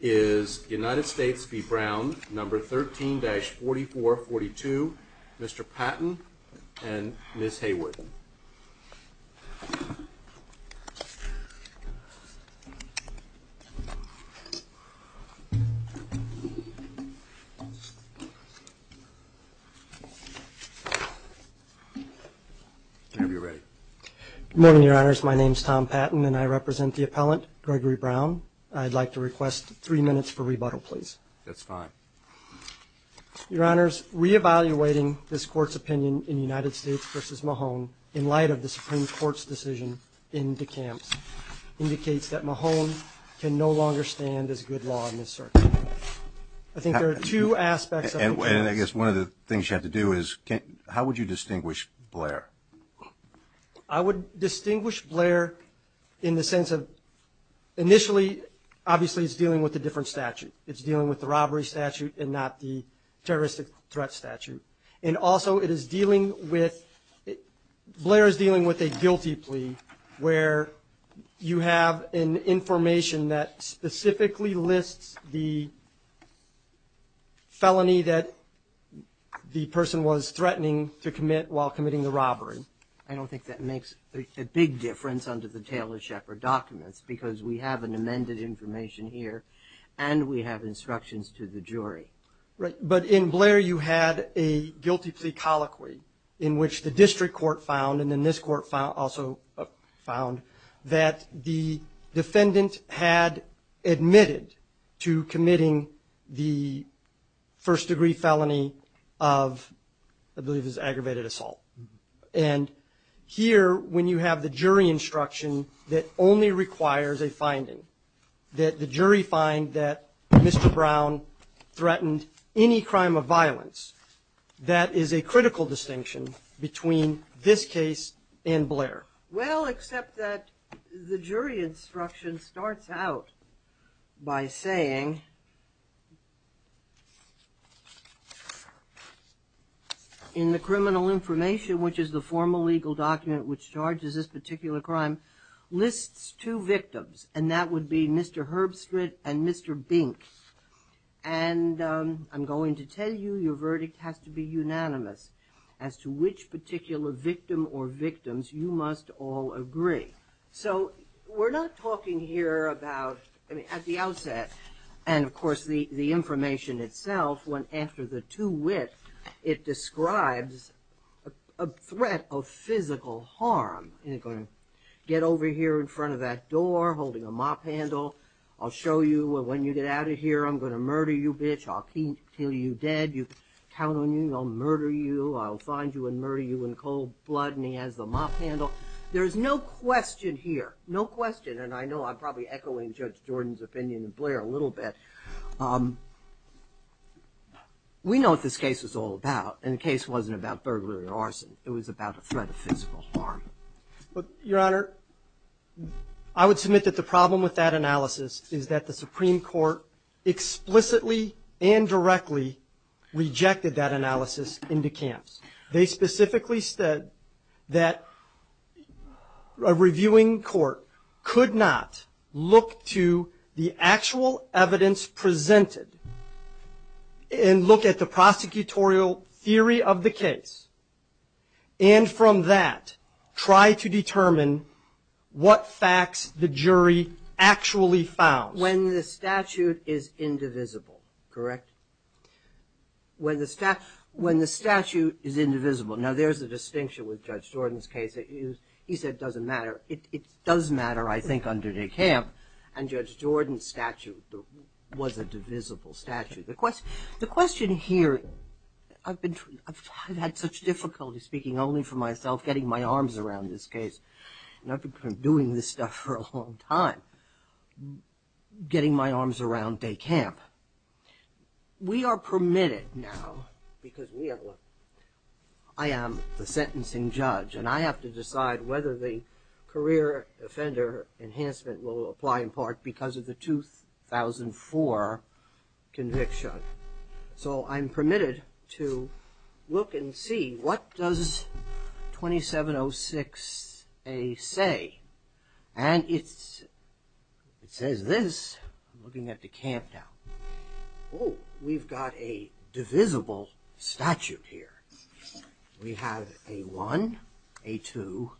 is United States v. Brown, number 13-4442, Mr. Patton and Ms. Haywood. Good morning, your honors. My name is Tom Patton and I represent the request three minutes for rebuttal, please. That's fine. Your honors, reevaluating this court's opinion in United States v. Mahone in light of the Supreme Court's decision in DeKalb's indicates that Mahone can no longer stand as good law in this circuit. I think there are two aspects. And I guess one of the things you have to do is, how would you distinguish Blair? I would say it's dealing with a different statute. It's dealing with the robbery statute and not the terroristic threat statute. And also it is dealing with, Blair is dealing with a guilty plea, where you have an information that specifically lists the felony that the person was threatening to commit while committing the robbery. I don't think that makes a big difference under the Taylor-Shepard documents because we have an amended information here and we have instructions to the jury. Right, but in Blair you had a guilty plea colloquy in which the district court found, and then this court also found, that the defendant had admitted to committing the first-degree felony of, I believe it was aggravated assault. And here, when you have the jury instruction that only requires a finding, that the jury find that Mr. Brown threatened any crime of violence, that is a critical distinction between this case and Blair. Well, except that the jury instruction starts out by saying, in the criminal information, which is the formal legal document which charges this particular crime, lists two victims, and that would be Mr. Herbstritt and Mr. Bink. And I'm going to tell you your verdict has to be unanimous as to which particular victim or victims you must all agree. So we're not talking here about, I mean, at the outset, and of course the information itself, when after the two-wit, it describes a threat of physical harm. You're going to get over here in front of that door holding a mop handle. I'll show you when you get out of here I'm going to murder you, bitch. I'll kill you dead. You count on me, I'll murder you. I'll find you and murder you in cold blood. And he has the mop handle. There's no question here, no question, and I know I'm probably echoing Judge Jordan's opinion and Blair a little bit. We know what this case is all about, and the case wasn't about burglary or arson. It was about a threat of physical harm. Your Honor, I would submit that the problem with that analysis is that the Supreme Court explicitly and directly rejected that analysis into camps. They specifically said that a reviewing court could not look to the actual evidence presented and look at the prosecutorial theory of the case, and from that try to determine what facts the jury actually found. When the statute is indivisible, correct? When the statute is indivisible. Now there's a distinction with Judge Jordan's case. He said it doesn't matter. It does matter, I think, under de camp, and Judge Jordan's statute was a divisible statute. The question here, I've had such difficulty speaking only for myself, getting my arms around this case, and I've been doing this stuff for a long time, getting my arms around de camp. We are permitted now, because I am the sentencing judge and I have to decide whether the career offender enhancement will apply in part because of the 2004 conviction. So I'm permitted to look and see what does 2706A say, and it says this, looking at de camp now. Oh, we've got a divisible statute here. We have a 1, a 2,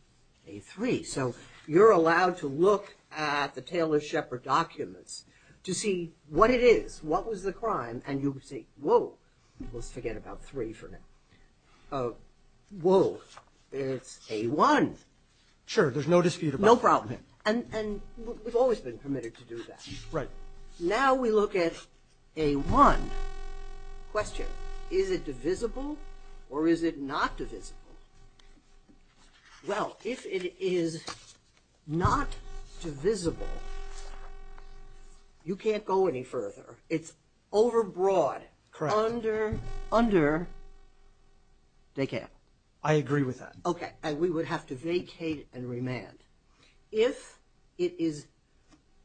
a 3. So you're allowed to look at the Taylor-Shepard documents to see what it is, what was the crime, and you would say, whoa, let's forget about 3 for now. Whoa, it's a 1. Sure, there's no dispute about that. No problem, and we've always been permitted to do that. Right. Now we look at a 1. Question, is it divisible or is it not divisible? Well, if it is not divisible, you can't go any further. It's overbroad, under de camp. I agree with that. Okay, and we would have to vacate and remand. If it is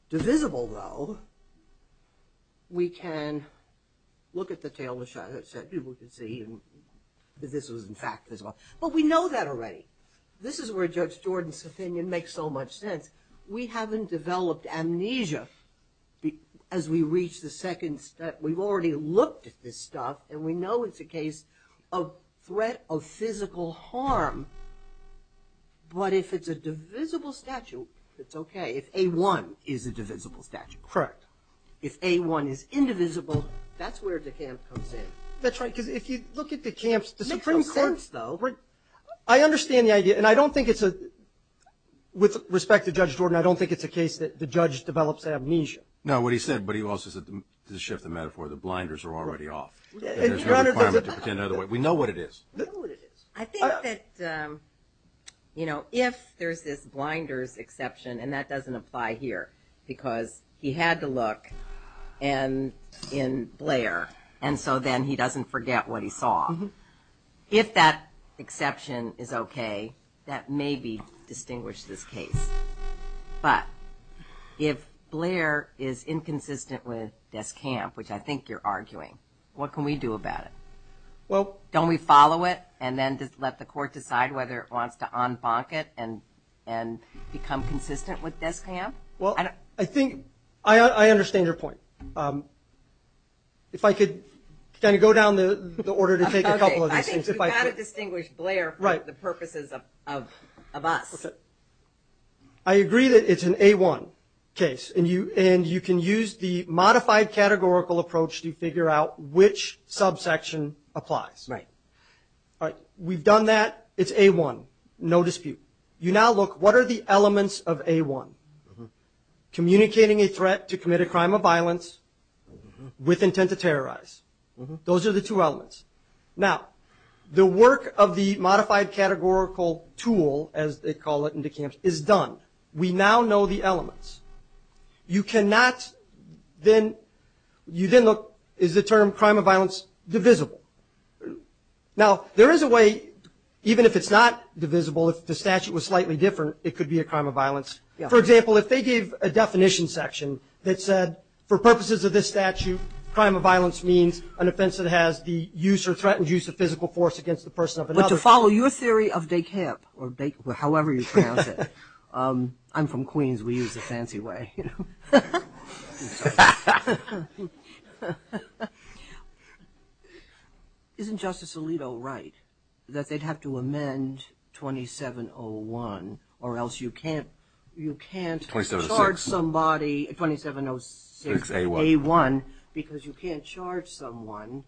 divisible, though, we can look at the Taylor-Shepard so people can see that this was in fact divisible. But we know that already. This is where Judge Jordan's opinion makes so much sense. We haven't developed amnesia as we reach the second step. We've already looked at this stuff, and we know it's a case of threat of physical harm, but if it's a divisible statute, it's okay. If A1 is a divisible statute. Correct. If A1 is indivisible, that's where de camp comes in. That's right, because if you look at the camps, the Supreme Court's, though, I understand the idea, and I don't think it's a, with respect to Judge Jordan, I don't think it's a case that the judge develops amnesia. No, what he said, but he also said, to shift the metaphor, the blinders are already off. We know what it is. I think that, you know, if there's this blinders exception, and that doesn't apply here, because he had to look in Blair, and so then he doesn't forget what he saw. If that exception is okay, that may be distinguished this case. But if Blair is inconsistent with desk camp, which I think you're arguing, what can we do about it? Well, don't we follow it, and then just let the court decide whether it wants to un-bonk it, and become consistent with desk camp? Well, I think, I understand your point. If I could kind of go down the order to take a couple of these things. I think you've got to distinguish Blair for the purposes of us. I agree that it's an A1 case, and you can use the modified categorical approach to figure out which subsection applies. We've done that. It's A1. No dispute. You now look, what are the elements of A1? Communicating a threat to commit a crime of violence with intent to terrorize. Those are the two elements. Now, the work of the modified categorical tool, as they call it in the camps, is done. We now know the elements. You cannot then, you know, make something else divisible. Now, there is a way, even if it's not divisible, if the statute was slightly different, it could be a crime of violence. For example, if they gave a definition section that said, for purposes of this statute, crime of violence means an offense that has the use or threatened use of physical force against the person of another. But to follow your theory of day camp, or however you pronounce it, I'm from Queens, we use the fancy way. Isn't Justice Alito right that they'd have to amend 2701 or else you can't you can't charge somebody, 2706 A1, because you can't charge someone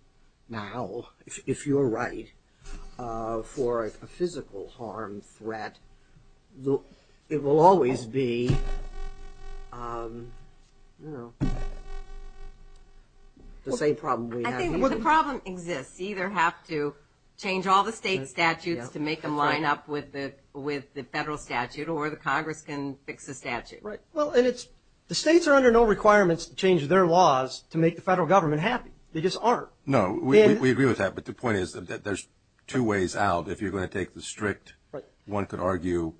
now, if you're right, for a physical harm threat. It will always be the same problem we have. I think the problem exists. You either have to change all the state statutes to make them line up with the federal statute or the Congress can fix the statute. Right. Well, and it's, the states are under no requirements to change their laws to make the federal government happy. They just aren't. No, we agree with that, but the point is that there's two ways out. If you're going to take the strict, one could argue,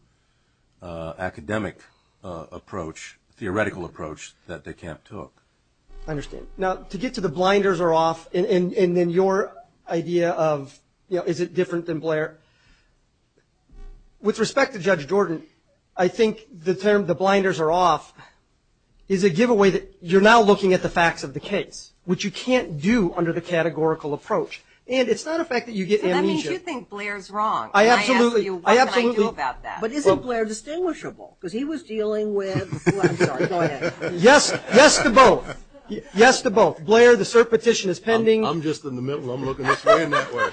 academic approach, theoretical approach, that they can't took. I understand. Now, to get to the blinders are off, and then your idea of, you know, is it different than Blair? With respect to Judge Jordan, I think the term, the blinders are off, is a giveaway that you're now looking at the facts of the case, which you can't do under the categorical approach, and it's not a fact that you get amnesia. So that means you think Blair's wrong. I absolutely, I absolutely. What can I do about that? But isn't Blair distinguishable? Because he was dealing with, I'm sorry, go ahead. Yes, yes to both. Yes to both. Blair, the cert petition is pending. I'm just in the middle, I'm looking this way and that way.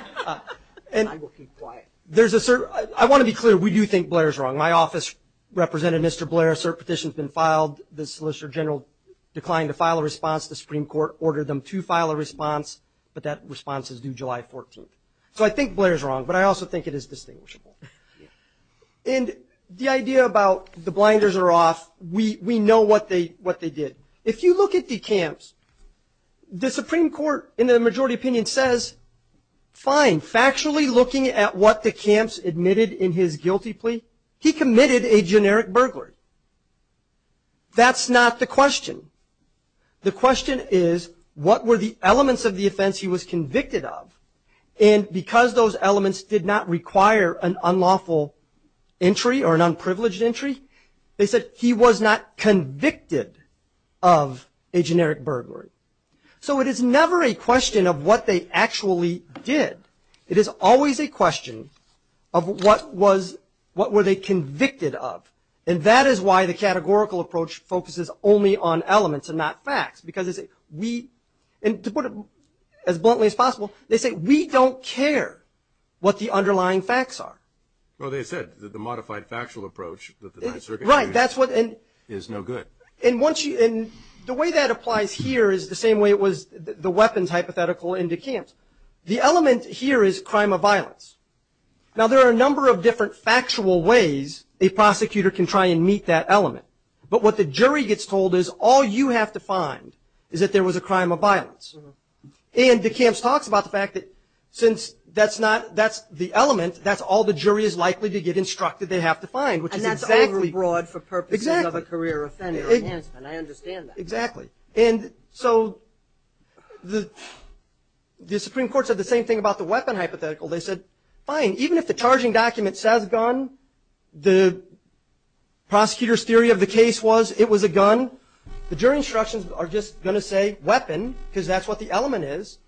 And I will keep quiet. There's a cert, I want to be clear, we do think Blair's wrong. My office represented Mr. Blair, cert petition's been filed, the Solicitor General declined to file a response, the Supreme Court ordered them to file a response, but that response is due July 14th. So I think Blair's wrong, but I also think it is distinguishable. And the idea about the blinders are off, we know what they did. If you look at the camps, the Supreme Court, in the majority opinion, says, fine, factually looking at what the camps admitted in his guilty plea, he committed a generic burglary. That's not the question. The question is, what were the elements of the offense he was convicted of? And because those elements did not require an unlawful entry or an unprivileged entry, they said he was not convicted of a generic burglary. So it is never a question of what they actually did. It is always a question of what was, what were they convicted of. And that is why the categorical approach focuses only on elements and not facts, because we, and to put it as bluntly as possible, they say we don't care what the underlying facts are. Well, they said that the modified factual approach that the Ninth Circuit used is no good. And once you, and the way that applies here is the same way it was the weapons hypothetical in the camps. The element here is crime of violence. Now, there are a number of different factual ways a prosecutor can try and meet that element. But what the jury gets told is, all you have to find is that there was a crime of violence. And the camps talks about the fact that since that's not, that's the element, that's all the jury is likely to get instructed they have to find. And that's overly broad for purposes of a career offender. I understand that. Exactly. And so the Supreme Court said the same thing about the weapon hypothetical. They said, fine, even if the charging document says gun, the prosecutor's theory of the case was it was a gun, the jury instructions are just going to say weapon, because that's what the element is.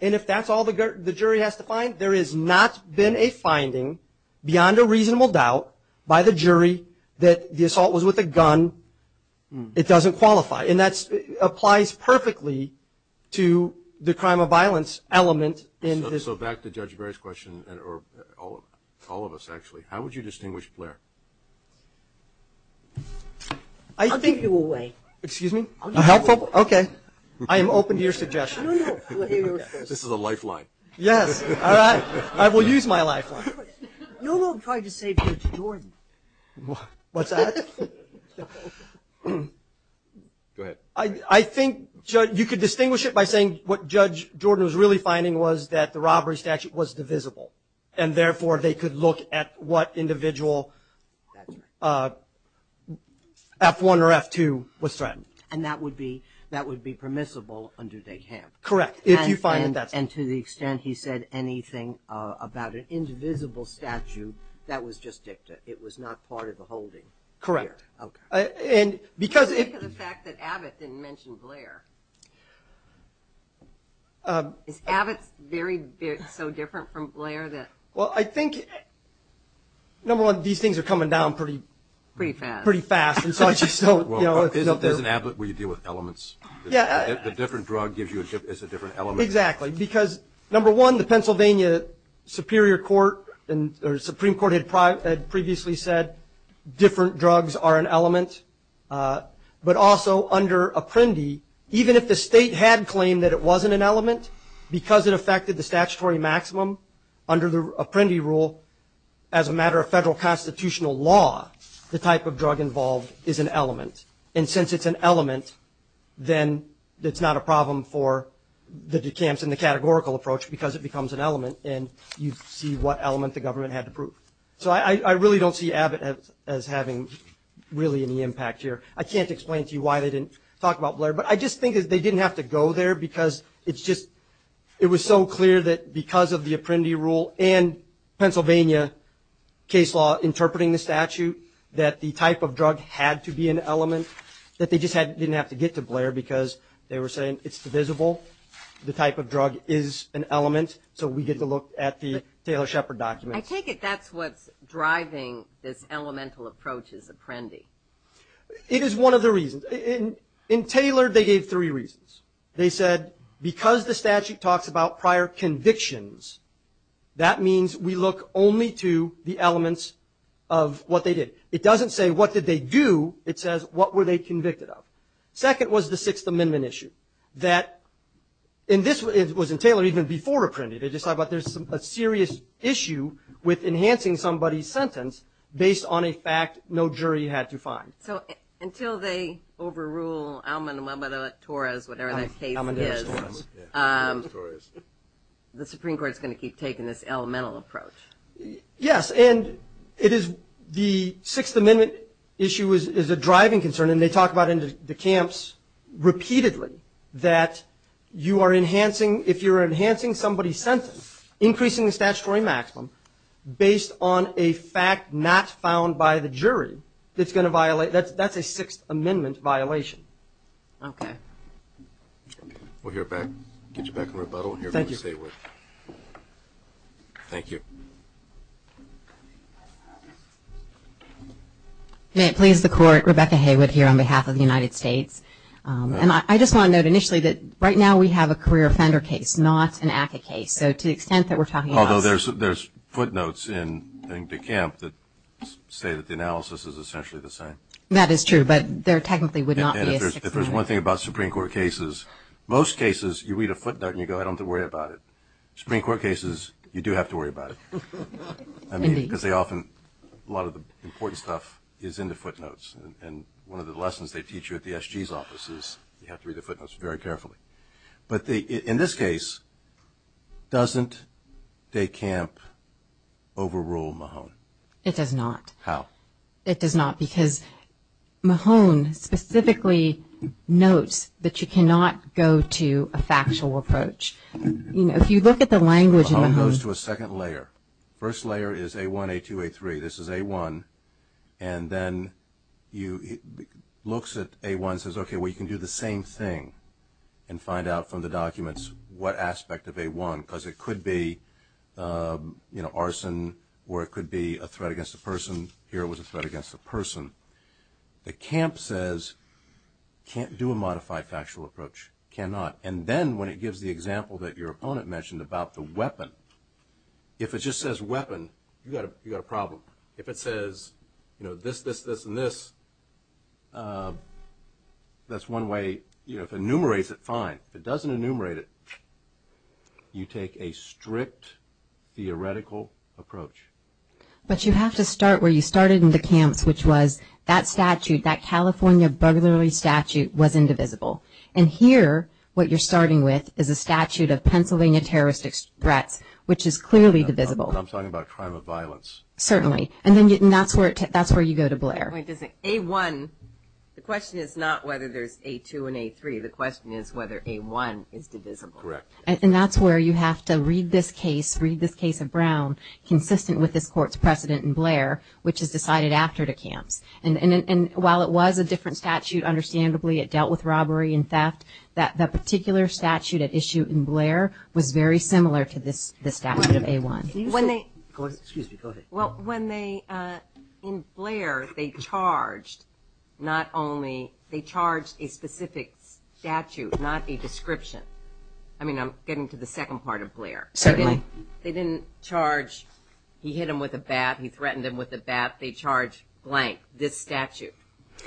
And if that's all the jury has to find, there has not been a finding beyond a reasonable doubt by the jury that the assault was with a gun, it doesn't qualify. And that applies perfectly to the crime of violence element in this. So back to Judge Gray's question, or all of us actually, how would you distinguish Blair? I think... I'll give you away. Excuse me? I'll give you away. Okay. I am open to your suggestion. This is a lifeline. Yes. All right. I will use my lifeline. No one tried to say Judge Jordan. What's that? Go ahead. I think you could distinguish it by saying what Judge Jordan was really finding was that the robbery statute was divisible, and therefore they could look at what individual F1 or F2 was threatened. And that would be permissible under day camp. Correct. If you find that's... And to the extent he said anything about an invisible statute, that was just dicta. It was not part of the holding. Correct. Okay. And because... Because of the fact that Abbott didn't mention Blair. Is Abbott so different from Blair that... Well, I think, number one, these things are coming down pretty... Pretty fast. Pretty fast. As an Abbott, we deal with elements. Yeah. The different drug gives you... It's a different element. Exactly. Because, number one, the Pennsylvania Supreme Court had previously said different drugs are an element. But also under Apprendi, even if the state had claimed that it wasn't an element because it affected the statutory maximum, under the Apprendi rule, as a matter of federal constitutional law, the type of drug involved is an element. And since it's an element, then it's not a problem for the decamps and the categorical approach because it becomes an element. And you see what element the government had to prove. So I really don't see Abbott as having really any impact here. I can't explain to you why they didn't talk about Blair. But I just think that they didn't have to go there because it's just... It was so clear that because of the Apprendi rule and Pennsylvania case law interpreting the statute, that the type of drug had to be an element, that they just didn't have to get to Blair because they were saying it's divisible, the type of drug is an element, so we get to look at the Taylor-Shepard documents. I take it that's what's driving this elemental approach as Apprendi. It is one of the reasons. In Taylor, they gave three reasons. They said because the statute talks about prior convictions, that means we look only to the elements of what they did. It doesn't say what did they do. It says what were they convicted of. Second was the Sixth Amendment issue. And this was in Taylor even before Apprendi. They just talk about there's a serious issue with enhancing somebody's sentence based on a fact no jury had to find. So until they overrule Almodovar-Torres, whatever that case is, the Supreme Court is going to keep taking this elemental approach. Yes, and it is the Sixth Amendment issue is a driving concern, and they talk about in the camps repeatedly that you are enhancing, if you're enhancing somebody's sentence, increasing the statutory maximum based on a fact not found by the jury that's a Sixth Amendment violation. Okay. We'll get you back in rebuttal. Thank you. Thank you. May it please the Court, Rebecca Haywood here on behalf of the United States. And I just want to note initially that right now we have a career offender case, not an ACCA case. Although there's footnotes in the camp that say that the analysis is essentially the same. That is true, but there technically would not be a Sixth Amendment. And if there's one thing about Supreme Court cases, most cases you read a footnote and you go, I don't have to worry about it. Supreme Court cases, you do have to worry about it. Because a lot of the important stuff is in the footnotes. And one of the lessons they teach you at the SG's office is you have to read the footnotes very carefully. But in this case, doesn't de camp overrule Mahone? It does not. How? It does not because Mahone specifically notes that you cannot go to a factual approach. If you look at the language in Mahone. Mahone goes to a second layer. First layer is A1, A2, A3. This is A1. And then it looks at A1 and says, okay, well, you can do the same thing and find out from the documents what aspect of A1. Because it could be arson or it could be a threat against a person. Here it was a threat against a person. The camp says, can't do a modified factual approach. Cannot. And then when it gives the example that your opponent mentioned about the weapon. If it just says weapon, you've got a problem. If it says this, this, this, and this, that's one way. If it enumerates it, fine. If it doesn't enumerate it, you take a strict theoretical approach. But you have to start where you started in the camps, which was that statute, that California burglary statute was indivisible. And here what you're starting with is a statute of Pennsylvania terrorist threats, which is clearly divisible. I'm talking about a crime of violence. Certainly. And that's where you go to Blair. Wait a second. A1, the question is not whether there's A2 and A3. The question is whether A1 is divisible. Correct. And that's where you have to read this case, read this case of Brown, consistent with this court's precedent in Blair, which is decided after the camps. And while it was a different statute, understandably it dealt with robbery and theft, that particular statute at issue in Blair was very similar to this statute of A1. Excuse me. Go ahead. Well, when they, in Blair, they charged not only, they charged a specific statute, not a description. I mean, I'm getting to the second part of Blair. Certainly. They didn't charge he hit him with a bat, he threatened him with a bat. They charged blank, this statute.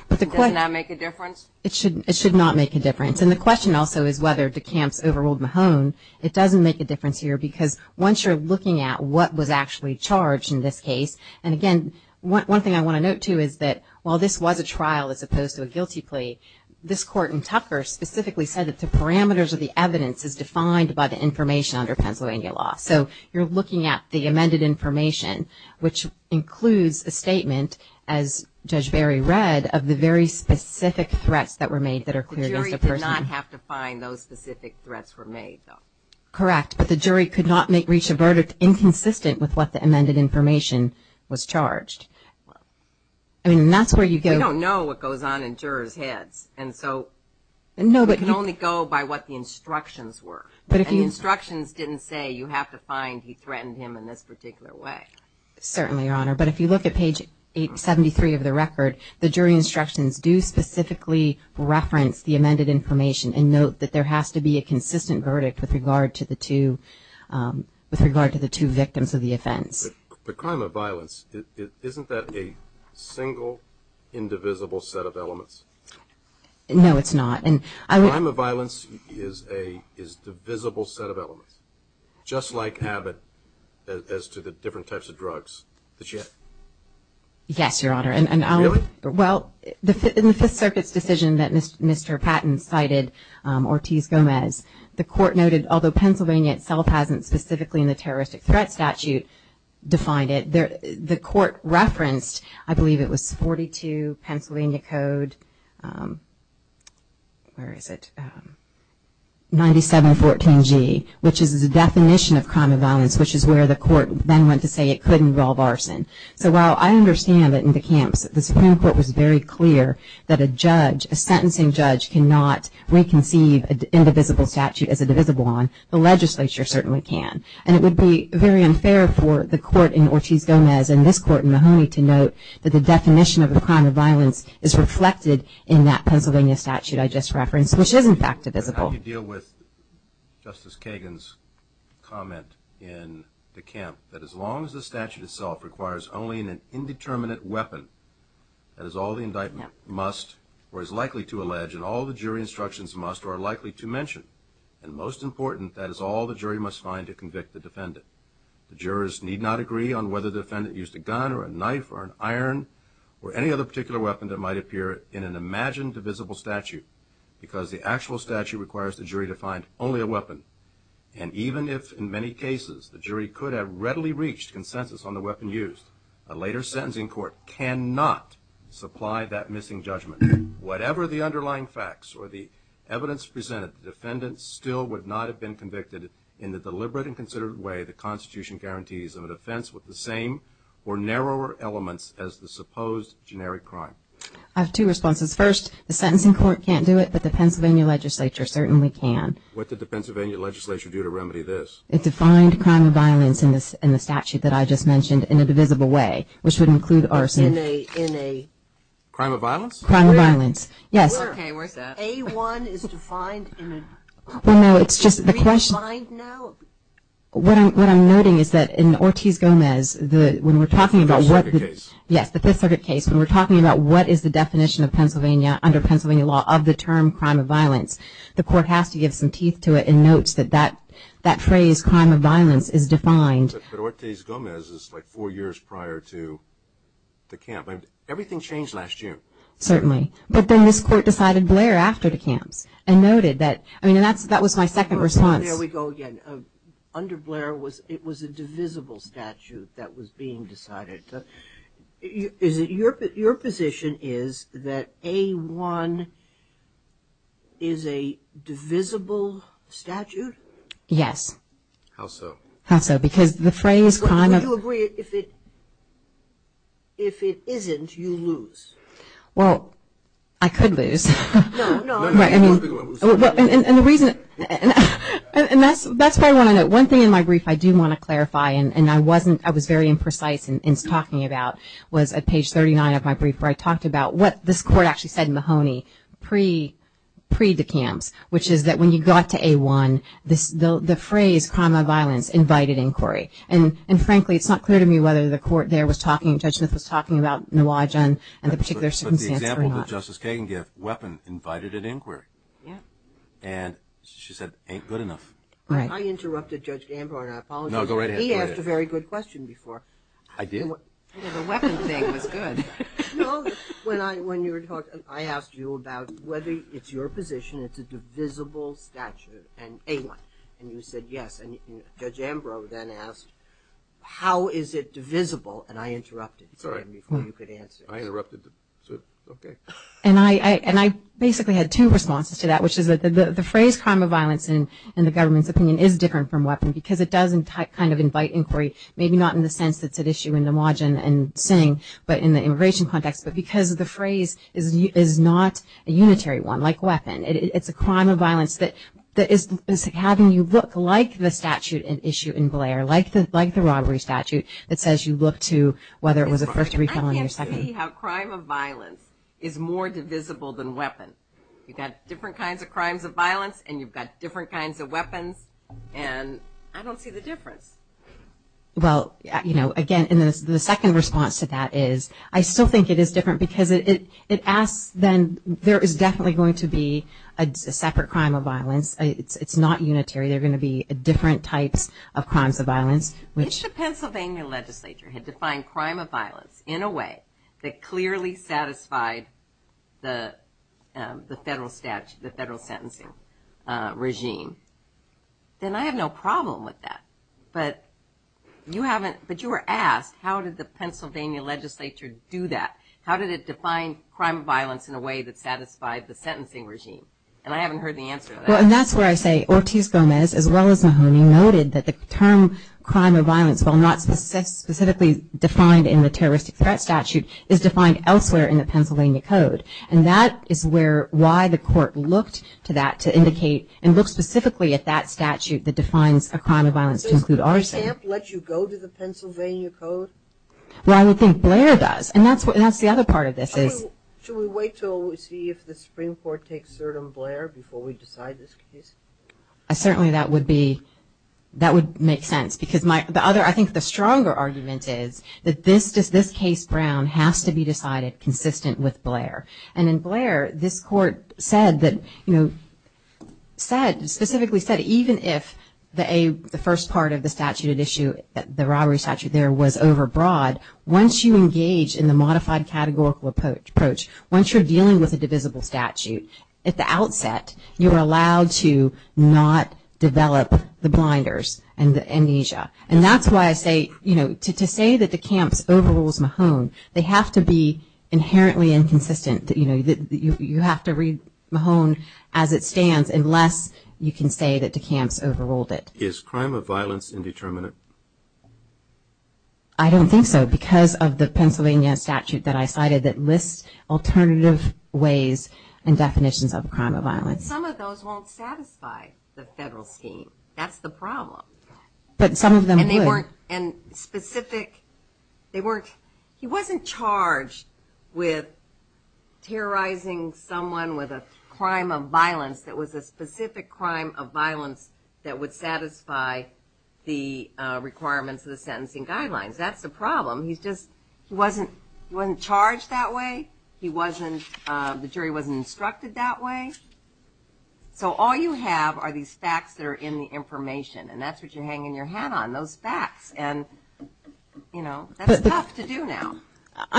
Does that make a difference? It should not make a difference. And the question also is whether the camps overruled Mahone. It doesn't make a difference here because once you're looking at what was actually charged in this case, and again, one thing I want to note, too, is that while this was a trial as opposed to a guilty plea, this court in Tucker specifically said that the parameters of the evidence is defined by the information under Pennsylvania law. So you're looking at the amended information, which includes a statement, as Judge Barry read, of the very specific threats that were made. The jury did not have to find those specific threats were made, though. Correct. But the jury could not reach a verdict inconsistent with what the amended information was charged. I mean, that's where you go. We don't know what goes on in jurors' heads. And so we can only go by what the instructions were. And the instructions didn't say you have to find he threatened him in this particular way. Certainly, Your Honor. But if you look at page 873 of the record, the jury instructions do specifically reference the amended information and note that there has to be a consistent verdict with regard to the two victims of the offense. But crime of violence, isn't that a single, indivisible set of elements? No, it's not. Crime of violence is a divisible set of elements, just like Abbott as to the different types of drugs that she had. Yes, Your Honor. Really? Well, in the Fifth Circuit's decision that Mr. Patton cited, Ortiz-Gomez, the court noted although Pennsylvania itself hasn't specifically in the terroristic threat statute defined it, the court referenced, I believe it was 42 Pennsylvania Code, where is it, 9714G, which is the definition of crime of violence, which is where the court then went to say it could involve arson. So while I understand that in the camps the Supreme Court was very clear that a judge, a sentencing judge cannot reconceive an indivisible statute as a divisible one, the legislature certainly can. And it would be very unfair for the court in Ortiz-Gomez and this court in Mahoney to note that the definition of a crime of violence is reflected in that Pennsylvania statute I just referenced, which is in fact divisible. How do you deal with Justice Kagan's comment in the camp that as long as the statute itself requires only an indeterminate weapon, that is all the indictment must or is likely to allege and all the jury instructions must or are likely to mention, and most important, that is all the jury must find to convict the defendant. The jurors need not agree on whether the defendant used a gun or a knife or an iron or any other particular weapon that might appear in an imagined divisible statute because the actual statute requires the jury to find only a weapon. And even if in many cases the jury could have readily reached consensus on the weapon used, a later sentencing court cannot supply that missing judgment. Whatever the underlying facts or the evidence presented, the defendant still would not have been convicted in the deliberate and considered way the Constitution guarantees of a defense with the same or narrower elements as the supposed generic crime. I have two responses. First, the sentencing court can't do it, but the Pennsylvania legislature certainly can. What did the Pennsylvania legislature do to remedy this? It defined crime of violence in the statute that I just mentioned in a divisible way, which would include arson. Crime of violence? Crime of violence. Yes. Okay, where's that? A-1 is defined in a? Well, no, it's just the question. What I'm noting is that in Ortiz-Gomez, when we're talking about what the... Fifth Circuit case. Yes, the Fifth Circuit case. When we're talking about what is the definition of Pennsylvania under Pennsylvania law of the term crime of violence, the court has to give some teeth to it and notes that that phrase, crime of violence, is defined. But Ortiz-Gomez is like four years prior to the camp. Everything changed last June. Certainly. But then this court decided Blair after the camps and noted that... I mean, that was my second response. There we go again. Under Blair, it was a divisible statute that was being decided. Your position is that A-1 is a divisible statute? Yes. How so? How so? Because the phrase, crime of... Would you agree if it isn't, you lose? Well, I could lose. No, no. Right, I mean... And the reason... And that's why I want to note, one thing in my brief I do want to clarify, and I wasn't... I was very imprecise in talking about, was at page 39 of my brief, where I talked about what this court actually said in Mahoney pre the camps, which is that when you got to A-1, the phrase, crime of violence, invited inquiry. And frankly, it's not clear to me whether the court there was talking, Judge Smith was talking about Nwajan and the particular circumstance or not. But the example that Justice Kagan gave, weapon invited an inquiry. Yeah. And she said, ain't good enough. Right. I interrupted Judge Gambor, and I apologize. No, go right ahead. He asked a very good question before. I did? The weapon thing was good. No, when you were talking, I asked you about whether it's your position it's a divisible statute in A-1. And you said yes. And Judge Ambrose then asked, how is it divisible? And I interrupted. Sorry. Before you could answer. I interrupted. Okay. And I basically had two responses to that, which is that the phrase, crime of violence, in the government's opinion is different from weapon, because it does kind of invite inquiry, maybe not in the sense that's at issue in Nwajan and Singh, but in the immigration context. But because the phrase is not a unitary one, like weapon. It's a crime of violence that is having you look like the statute at issue in Blair, like the robbery statute, that says you look to whether it was a first or second. I can't see how crime of violence is more divisible than weapon. You've got different kinds of crimes of violence, and you've got different kinds of weapons, and I don't see the difference. Well, you know, again, the second response to that is, I still think it is different, because it asks then there is definitely going to be a separate crime of violence. It's not unitary. There are going to be different types of crimes of violence. If the Pennsylvania legislature had defined crime of violence in a way that clearly satisfied the federal statute, the federal sentencing regime, then I have no problem with that. But you were asked, how did the Pennsylvania legislature do that? How did it define crime of violence in a way that satisfied the sentencing regime? And I haven't heard the answer to that. Well, and that's where I say Ortiz Gomez, as well as Mahoney, noted that the term crime of violence, while not specifically defined in the terroristic threat statute, is defined elsewhere in the Pennsylvania code. And that is why the court looked to that to indicate and look specifically at that statute that defines a crime of violence to include arson. So does Camp let you go to the Pennsylvania code? Well, I would think Blair does. And that's the other part of this. Should we wait to see if the Supreme Court takes cert on Blair before we decide this case? Certainly that would be, that would make sense. Because I think the stronger argument is that this case, Brown, has to be decided consistent with Blair. And in Blair, this court said that, you know, said, specifically said even if the first part of the statute at issue, the robbery statute there was over broad, once you engage in the modified categorical approach, once you're dealing with a divisible statute, at the outset you're allowed to not develop the blinders and the amnesia. And that's why I say, you know, to say that the Camps overrules Mahoney, they have to be inherently inconsistent. You have to read Mahoney as it stands unless you can say that the Camps overruled it. Is crime of violence indeterminate? I don't think so because of the Pennsylvania statute that I cited that lists alternative ways and definitions of crime of violence. Some of those won't satisfy the federal scheme. That's the problem. But some of them would. And specific, they weren't, he wasn't charged with terrorizing someone with a crime of violence that was a specific crime of violence that would satisfy the requirements of the sentencing guidelines. That's the problem. He's just, he wasn't charged that way. He wasn't, the jury wasn't instructed that way. So all you have are these facts that are in the information and that's what you're hanging your hat on, those facts. And, you know, that's tough to do now. But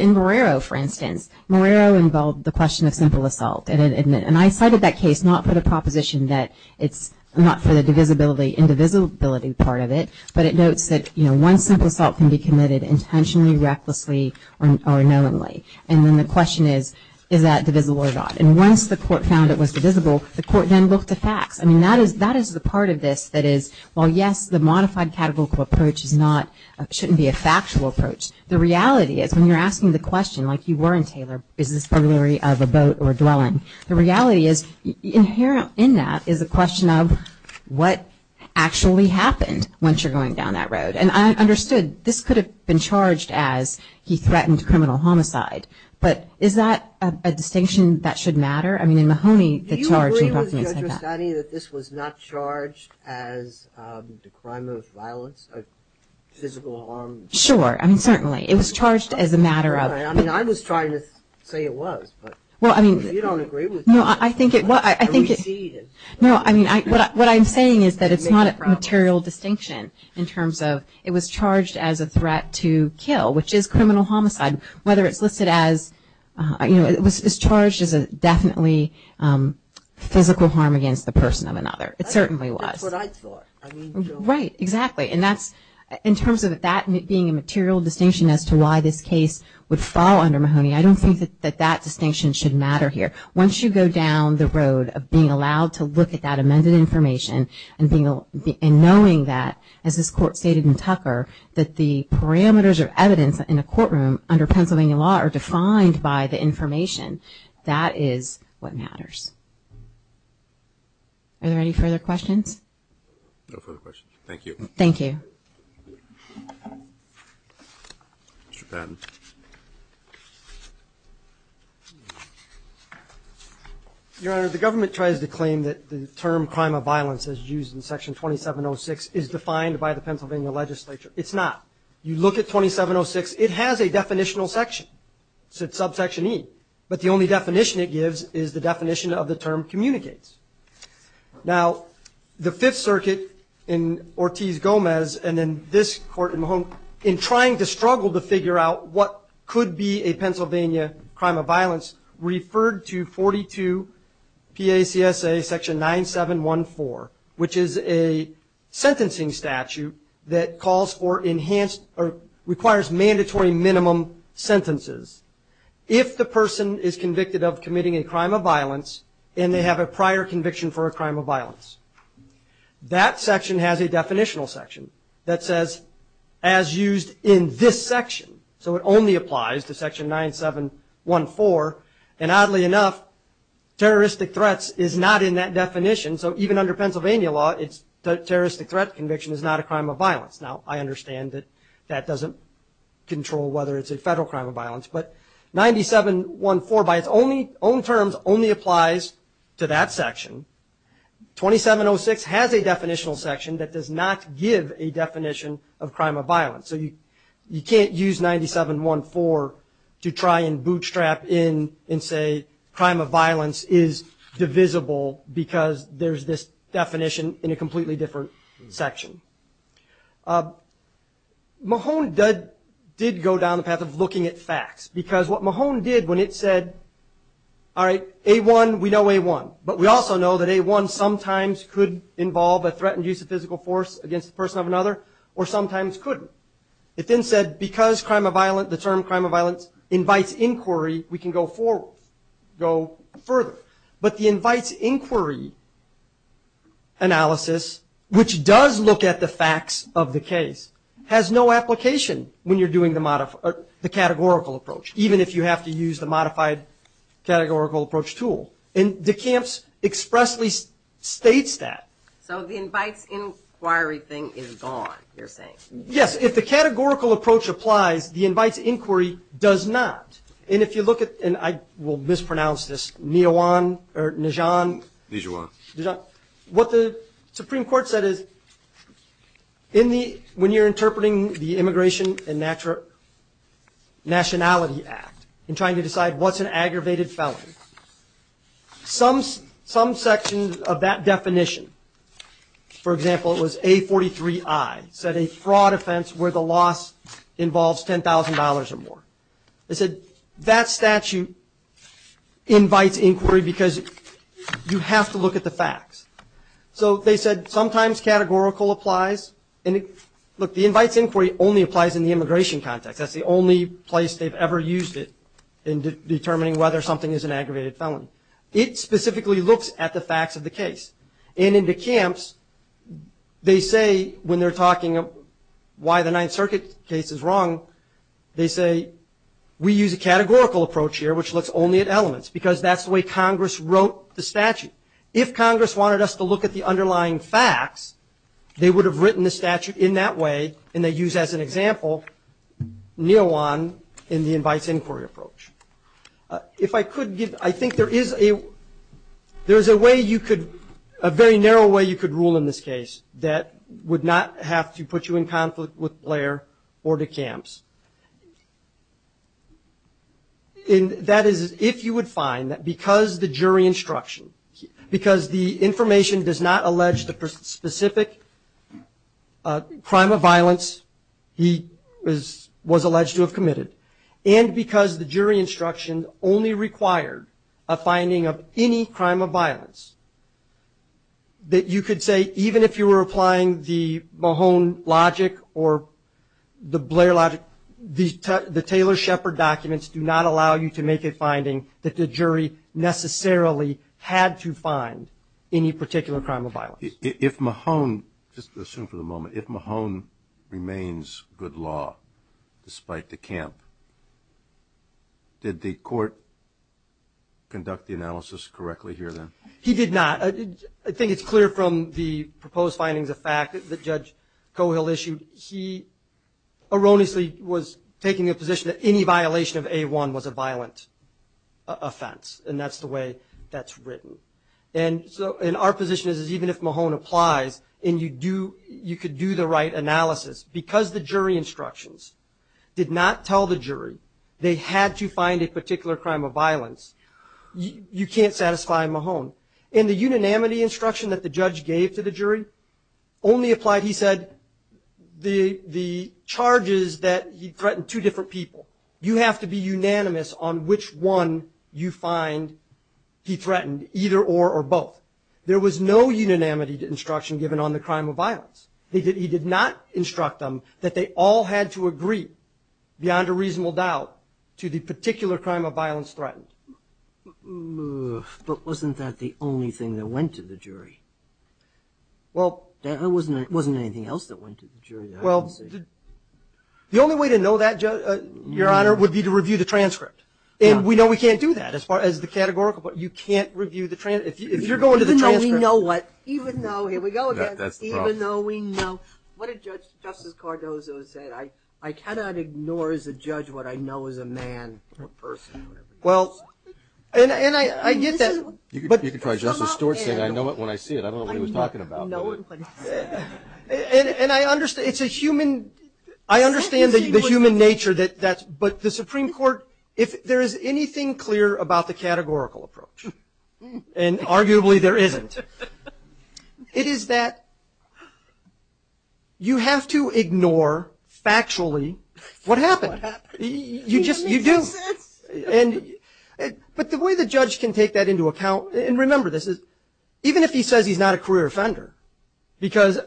in Marrero, for instance, Marrero involved the question of simple assault. And I cited that case not for the proposition that it's not for the divisibility, indivisibility part of it, but it notes that one simple assault can be committed intentionally, recklessly, or knowingly. And then the question is, is that divisible or not? And once the court found it was divisible, the court then looked to facts. I mean, that is the part of this that is, well, yes, the modified categorical approach is not, shouldn't be a factual approach. The reality is when you're asking the question, like you were in Taylor, is this burglary of a boat or a dwelling, the reality is inherent in that is a question of what actually happened once you're going down that road. And I understood this could have been charged as he threatened criminal homicide. But is that a distinction that should matter? I mean, in Mahoney, the charge in reference to that. Is it a study that this was not charged as a crime of violence, physical harm? Sure. I mean, certainly. It was charged as a matter of. I mean, I was trying to say it was. Well, I mean. You don't agree with me. No, I think it was. No, I mean, what I'm saying is that it's not a material distinction in terms of it was charged as a threat to kill, which is criminal homicide, whether it's listed as, you know, it was charged as definitely physical harm against the person of another. It certainly was. That's what I thought. Right. Exactly. And that's in terms of that being a material distinction as to why this case would fall under Mahoney, I don't think that that distinction should matter here. Once you go down the road of being allowed to look at that amended information and knowing that, as this Court stated in Tucker, that the parameters of evidence in a courtroom under Pennsylvania law are subject to information, that is what matters. Are there any further questions? No further questions. Thank you. Thank you. Mr. Patton. Your Honor, the government tries to claim that the term crime of violence as used in Section 2706 is defined by the Pennsylvania legislature. It's not. You look at 2706, it has a definitional section. It's at subsection E. But the only definition it gives is the definition of the term communicates. Now, the Fifth Circuit in Ortiz-Gomez and in this court in Mahoney, in trying to struggle to figure out what could be a Pennsylvania crime of violence, referred to 42 PACSA Section 9714, which is a sentencing statute that calls for enhanced or requires mandatory minimum sentences if the person is convicted of committing a crime of violence and they have a prior conviction for a crime of violence. That section has a definitional section that says, as used in this section. So it only applies to Section 9714. And oddly enough, terroristic threats is not in that definition. So even under Pennsylvania law, the terroristic threat conviction is not a crime of violence. Now, I understand that that doesn't control whether it's a federal crime of violence. But 9714, by its own terms, only applies to that section. 2706 has a definitional section that does not give a definition of crime of violence. So you can't use 9714 to try and bootstrap in and say crime of violence is divisible because there's this definition in a completely different section. Mahone did go down the path of looking at facts, because what Mahone did when it said, all right, A1, we know A1. But we also know that A1 sometimes could involve a threatened use of physical force against the person of another, or sometimes couldn't. It then said, because crime of violence, the term crime of violence, invites inquiry, we can go forward, go further. But the invites inquiry analysis, which does look at the facts of the case, has no application when you're doing the categorical approach, even if you have to use the modified categorical approach tool. And DeCamps expressly states that. So the invites inquiry thing is gone, you're saying? Yes. If the categorical approach applies, the invites inquiry does not. And I will mispronounce this, what the Supreme Court said is, when you're interpreting the Immigration and Nationality Act and trying to decide what's an aggravated felony, some section of that definition, for example, it was A43I, said a fraud offense where the loss involves $10,000 or more. They said that statute invites inquiry because you have to look at the facts. So they said sometimes categorical applies. Look, the invites inquiry only applies in the immigration context. That's the only place they've ever used it in determining whether something is an aggravated felony. It specifically looks at the facts of the case. And in DeCamps, they say when they're talking why the Ninth Circuit case is wrong, they say we use a categorical approach here, which looks only at elements, because that's the way Congress wrote the statute. If Congress wanted us to look at the underlying facts, they would have written the statute in that way, and they use, as an example, NIOAN in the invites inquiry approach. If I could give, I think there is a way you could, a very narrow way you could rule in this case that would not have to put you in And that is if you would find that because the jury instruction, because the information does not allege the specific crime of violence he was alleged to have committed, and because the jury instruction only required a finding of any crime of violence, that you could say even if you were applying the Mahone logic or the Blair logic, the Taylor-Shepard documents do not allow you to make a finding that the jury necessarily had to find any particular crime of violence. If Mahone, just assume for the moment, if Mahone remains good law despite DeCamp, did the court conduct the analysis correctly here then? He did not. I think it's clear from the proposed findings of fact that Judge Cohill issued, he erroneously was taking the position that any violation of A1 was a violent offense, and that's the way that's written. And our position is even if Mahone applies and you could do the right analysis, because the jury instructions did not tell the jury they had to find a particular crime of violence, the unanimity instruction that the judge gave to the jury only applied, he said, the charges that he threatened two different people. You have to be unanimous on which one you find he threatened, either or or both. There was no unanimity instruction given on the crime of violence. He did not instruct them that they all had to agree beyond a reasonable doubt to the particular crime of violence threatened. But wasn't that the only thing that went to the jury? There wasn't anything else that went to the jury that I can see. Well, the only way to know that, Your Honor, would be to review the transcript. And we know we can't do that as far as the categorical, but you can't review the transcript. If you're going to the transcript. Even though we know what? Even though, here we go again. That's the problem. Even though we know. What did Justice Cardozo say? I cannot ignore as a judge what I know as a man or person. Well, and I get that. You can try Justice Stewart saying, I know it when I see it. I don't know what he was talking about. And I understand, it's a human, I understand the human nature, but the Supreme Court, if there is anything clear about the categorical approach, and arguably there isn't, it is that you have to ignore factually what happened. You just, you do. But the way the judge can take that into account, and remember this, even if he says he's not a career offender, because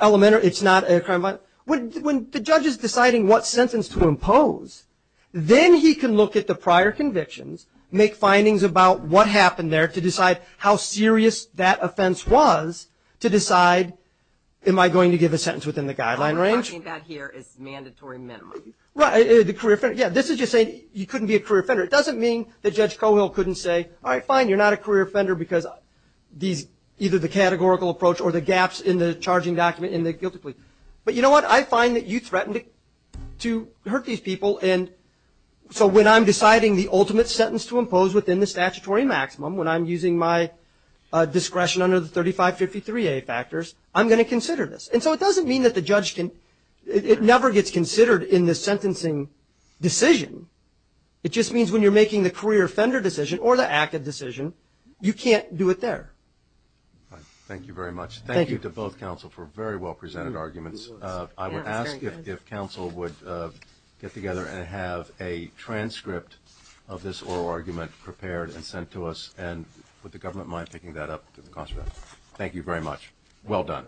elementary, it's not a crime, when the judge is deciding what sentence to impose, then he can look at the prior convictions, make findings about what happened there to decide how serious that offense was to decide, am I going to give a sentence within the guideline range? All I'm talking about here is mandatory minimum. Yeah, this is just saying you couldn't be a career offender. It doesn't mean that Judge Cohill couldn't say, all right, fine, you're not a career offender because either the categorical approach or the gaps in the charging document in the guilty plea. But you know what? I find that you threatened to hurt these people, and so when I'm deciding the ultimate sentence to impose within the statutory maximum, when I'm using my discretion under the 3553A factors, I'm going to consider this. And so it doesn't mean that the judge can, it never gets considered in the sentencing decision. It just means when you're making the career offender decision or the ACID decision, you can't do it there. Thank you very much. Thank you to both counsel for very well presented arguments. I would ask if counsel would get together and have a transcript of this oral argument prepared and sent to us, and would the government mind picking that up to the constable? Thank you very much. Well done.